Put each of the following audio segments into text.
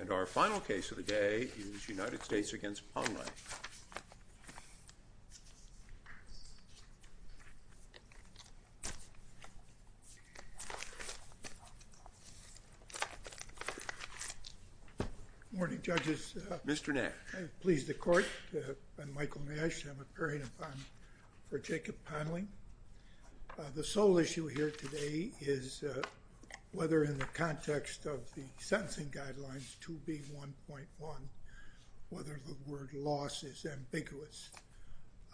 And our final case of the day is United States v. Ponlein. Good morning, judges. Mr. Nash. Please, the Court. I'm Michael Nash. I'm appearing for Jacob Ponlein. The sole issue here today is whether, in the context of the sentencing guidelines 2B.1.1, whether the word loss is ambiguous.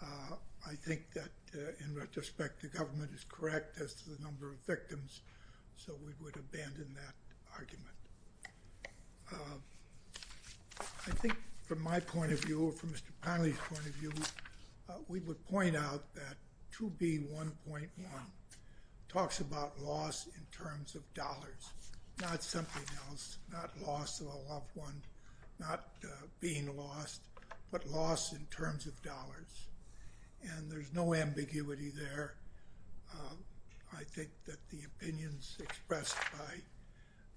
I think that, in retrospect, the government is correct as to the number of victims, so we would abandon that argument. I think, from my point of view, from Mr. Ponlein's point of view, we would point out that 2B.1.1 talks about loss in terms of dollars, not something else, not loss of a loved one, not being lost, but loss in terms of dollars. And there's no ambiguity there. I think that the opinions expressed by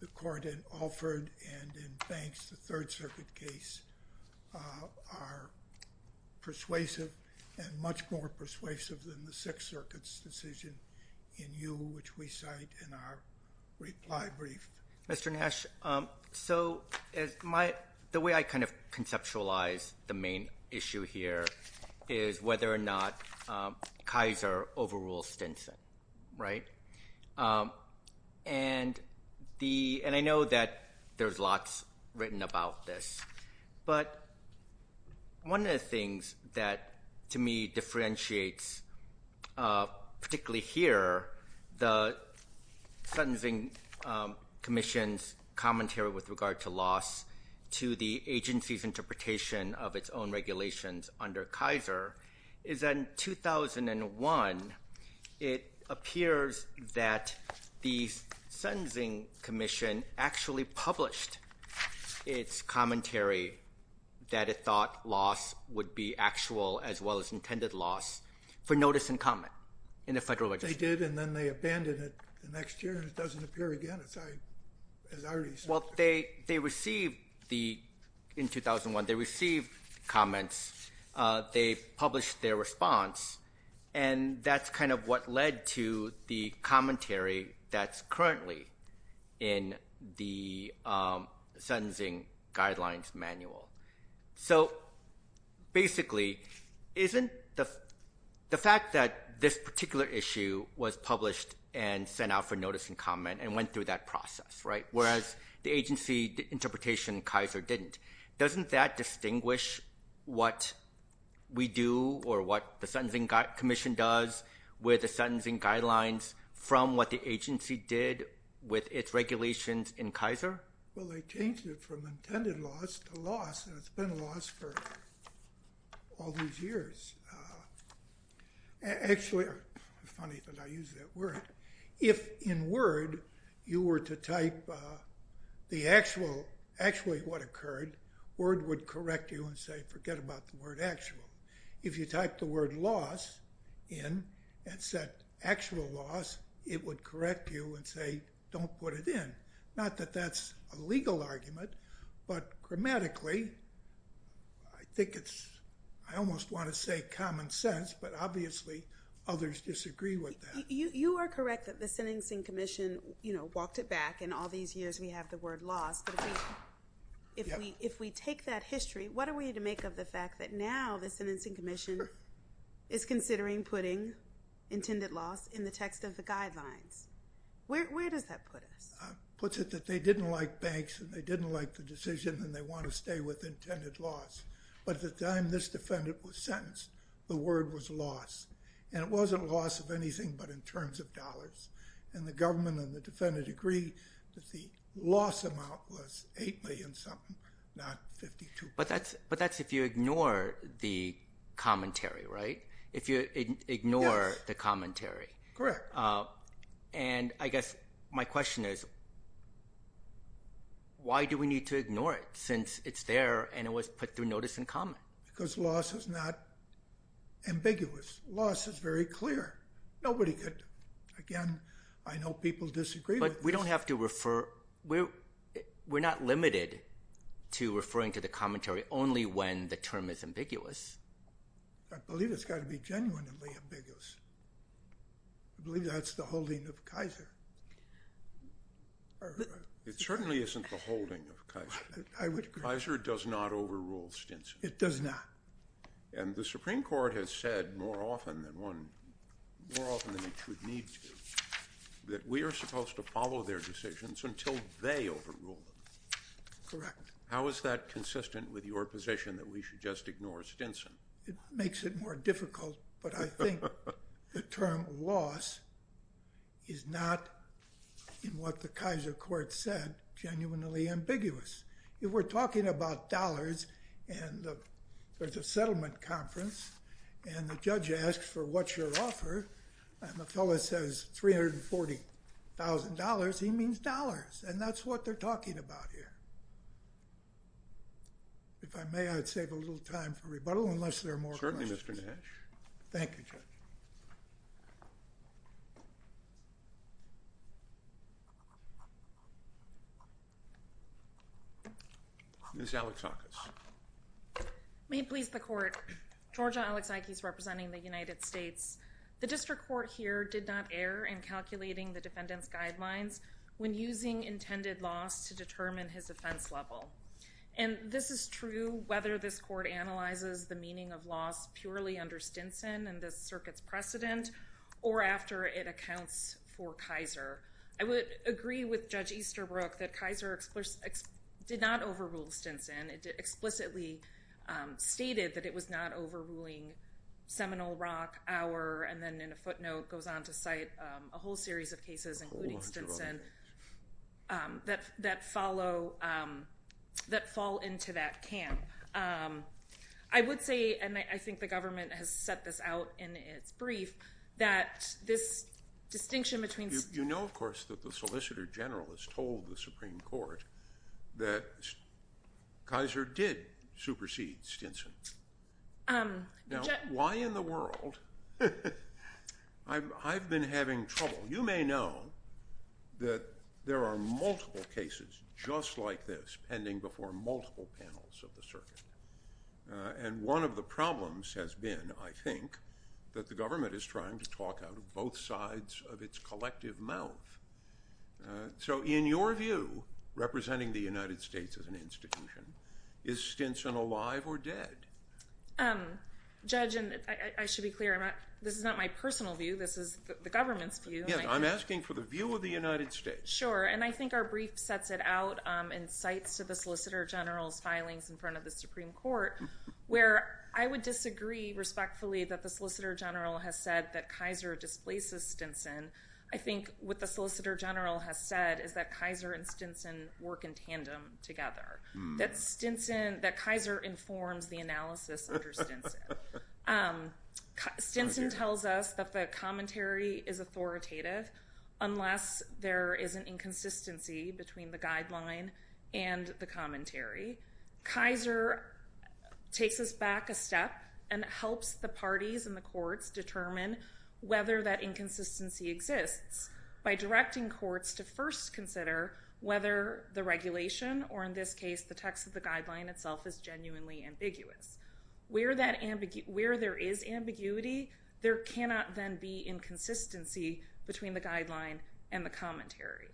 the Court in Alford and in Banks, the Third Circuit case, are persuasive and much more persuasive than the Sixth Circuit's decision in you, which we cite in our reply brief. Mr. Nash, so the way I kind of conceptualize the main issue here is whether or not Kaiser overrules Stinson, right? And I know that there's lots written about this, but one of the things that, to me, differentiates, particularly here, the Sentencing Commission's commentary with regard to loss to the agency's interpretation of its own regulations under Kaiser, is that in 2001, it appears that the Sentencing Commission actually published its commentary that it thought loss would be actual as well as intended loss for notice and comment in the federal legislature. They did, and then they abandoned it the next year, and it doesn't appear again, as I already said. Well, they received the, in 2001, they received comments. They published their response, and that's kind of what led to the commentary that's currently in the Sentencing Guidelines Manual. So, basically, isn't the fact that this particular issue was published and sent out for notice and comment and went through that process, right, whereas the agency interpretation in Kaiser didn't, doesn't that distinguish what we do or what the Sentencing Commission does with the Sentencing Guidelines from what the agency did with its regulations in Kaiser? Well, they changed it from intended loss to loss, and it's been loss for all these years. Actually, it's funny that I use that word. If in word you were to type the actual, actually what occurred, word would correct you and say forget about the word actual. If you type the word loss in and set actual loss, it would correct you and say don't put it in. Not that that's a legal argument, but grammatically, I think it's, I almost want to say common sense, but obviously others disagree with that. You are correct that the Sentencing Commission, you know, walked it back and all these years we have the word loss, but if we take that history, what are we to make of the fact that now the Sentencing Commission is considering putting intended loss in the text of the guidelines? Where does that put us? Puts it that they didn't like banks and they didn't like the decision and they want to stay with intended loss, but at the time this defendant was sentenced, the word was loss, and it wasn't loss of anything but in terms of dollars, and the government and the defendant agreed that the loss amount was $8 million something, not $52 million. But that's if you ignore the commentary, right? Yes. If you ignore the commentary. Correct. And I guess my question is why do we need to ignore it since it's there and it was put through notice and comment? Because loss is not ambiguous. Loss is very clear. Nobody could, again, I know people disagree with this. But we don't have to refer – we're not limited to referring to the commentary only when the term is ambiguous. I believe it's got to be genuinely ambiguous. I believe that's the holding of Kaiser. It certainly isn't the holding of Kaiser. I would agree. It does not. And the Supreme Court has said more often than it should need to that we are supposed to follow their decisions until they overrule them. Correct. How is that consistent with your position that we should just ignore Stinson? It makes it more difficult. But I think the term loss is not, in what the Kaiser court said, genuinely ambiguous. If we're talking about dollars and there's a settlement conference and the judge asks for what's your offer and the fellow says $340,000, he means dollars and that's what they're talking about here. If I may, I'd save a little time for rebuttal unless there are more questions. Certainly, Mr. Nash. Thank you, Judge. Ms. Alexakis. May it please the Court. Georgia Alexakis representing the United States. The district court here did not err in calculating the defendant's guidelines when using intended loss to determine his offense level. And this is true whether this court analyzes the meaning of loss purely under Stinson and this Circuit's ruling. or after it accounts for Kaiser. I would agree with Judge Easterbrook that Kaiser did not overrule Stinson. It explicitly stated that it was not overruling Seminole Rock, our, and then in a footnote goes on to cite a whole series of cases, including Stinson, that fall into that camp. I would say, and I think the government has set this out in its brief, that this distinction between- You know, of course, that the Solicitor General has told the Supreme Court that Kaiser did supersede Stinson. Now, why in the world? I've been having trouble. You may know that there are multiple cases just like this pending before multiple panels of the circuit. And one of the problems has been, I think, that the government is trying to talk out of both sides of its collective mouth. So in your view, representing the United States as an institution, is Stinson alive or dead? Judge, and I should be clear, this is not my personal view. This is the government's view. Yes, I'm asking for the view of the United States. Sure, and I think our brief sets it out in cites to the Solicitor General's filings in front of the Supreme Court, where I would disagree respectfully that the Solicitor General has said that Kaiser displaces Stinson. I think what the Solicitor General has said is that Kaiser and Stinson work in tandem together, that Kaiser informs the analysis under Stinson. Stinson tells us that the commentary is authoritative unless there is an inconsistency between the guideline and the commentary. Kaiser takes us back a step and helps the parties and the courts determine whether that inconsistency exists by directing courts to first consider whether the regulation, or in this case the text of the guideline itself, is genuinely ambiguous. Where there is ambiguity, there cannot then be inconsistency between the guideline and the commentary.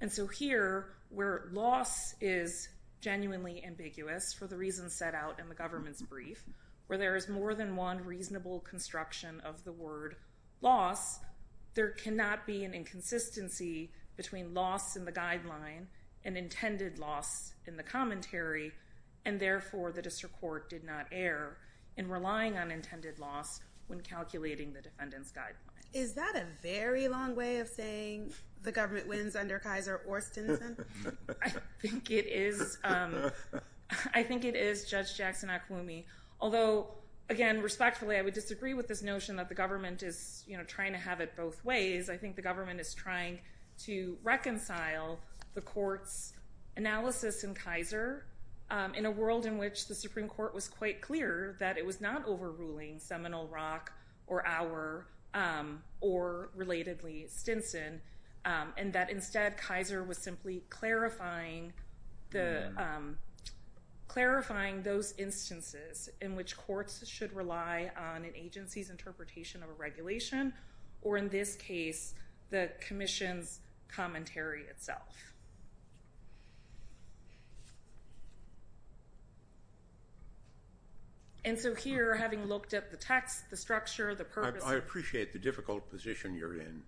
And so here, where loss is genuinely ambiguous, for the reasons set out in the government's brief, where there is more than one reasonable construction of the word loss, there cannot be an inconsistency between loss in the guideline and intended loss in the commentary, and therefore the district court did not err in relying on intended loss when calculating the defendant's guideline. Is that a very long way of saying the government wins under Kaiser or Stinson? I think it is, Judge Jackson-Akwumi. Although, again, respectfully I would disagree with this notion that the government is trying to have it both ways. I think the government is trying to reconcile the court's analysis in Kaiser in a world in which the Supreme Court was quite clear that it was not overruling Seminole Rock or our, or relatedly, Stinson, and that instead Kaiser was simply clarifying those instances in which courts should rely on an agency's interpretation of a regulation, or in this case, the commission's commentary itself. And so here, having looked at the text, the structure, the purpose of it. I appreciate the difficult position you're in.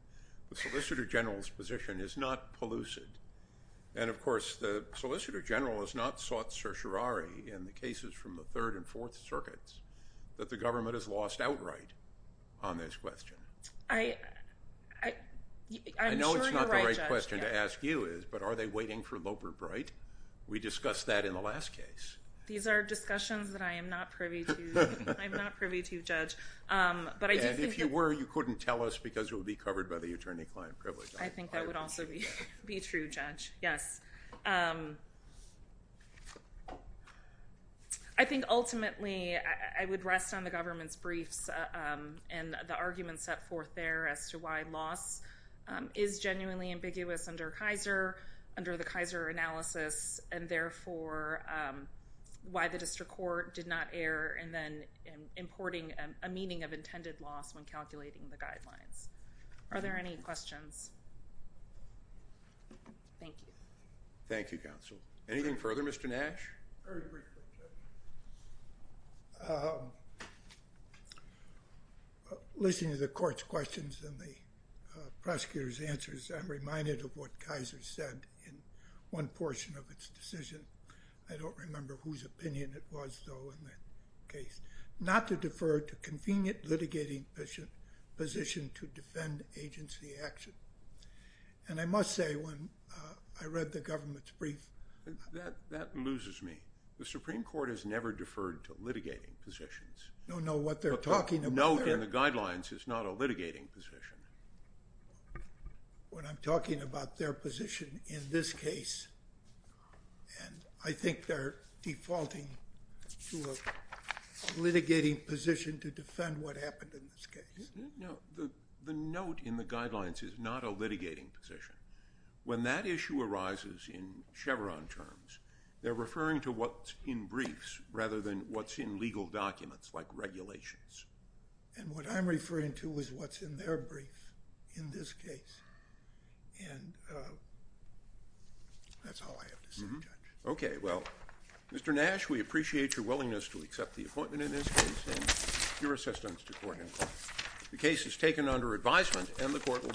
The Solicitor General's position is not pellucid. And, of course, the Solicitor General has not sought certiorari in the cases from the Third and Fourth Circuits that the government has lost outright on this question. I'm sure you're right, Judge. I know it's not the right question to ask you is, but are they waiting for Loper Bright? We discussed that in the last case. These are discussions that I am not privy to. I'm not privy to, Judge. And if you were, you couldn't tell us, because it would be covered by the attorney-client privilege. I think that would also be true, Judge, yes. I think ultimately I would rest on the government's briefs and the arguments set forth there as to why loss is genuinely ambiguous under Kaiser, under the Kaiser analysis, and therefore why the district court did not err in then importing a meaning of intended loss when calculating the guidelines. Are there any questions? Thank you. Thank you, counsel. Anything further, Mr. Nash? Listening to the court's questions and the prosecutor's answers, I'm reminded of what Kaiser said in one portion of its decision. I don't remember whose opinion it was, though, in that case. Not to defer to convenient litigating position to defend agency action. And I must say, when I read the government's brief, That loses me. The Supreme Court has never deferred to litigating positions. No, no, what they're talking about there. But the note in the guidelines is not a litigating position. When I'm talking about their position in this case, and I think they're defaulting to a litigating position to defend what happened in this case. No, the note in the guidelines is not a litigating position. When that issue arises in Chevron terms, they're referring to what's in briefs rather than what's in legal documents like regulations. And what I'm referring to is what's in their brief in this case. And that's all I have to say, Judge. Okay, well, Mr. Nash, we appreciate your willingness to accept the appointment in this case and your assistance to court in court. The case is taken under advisement and the court will...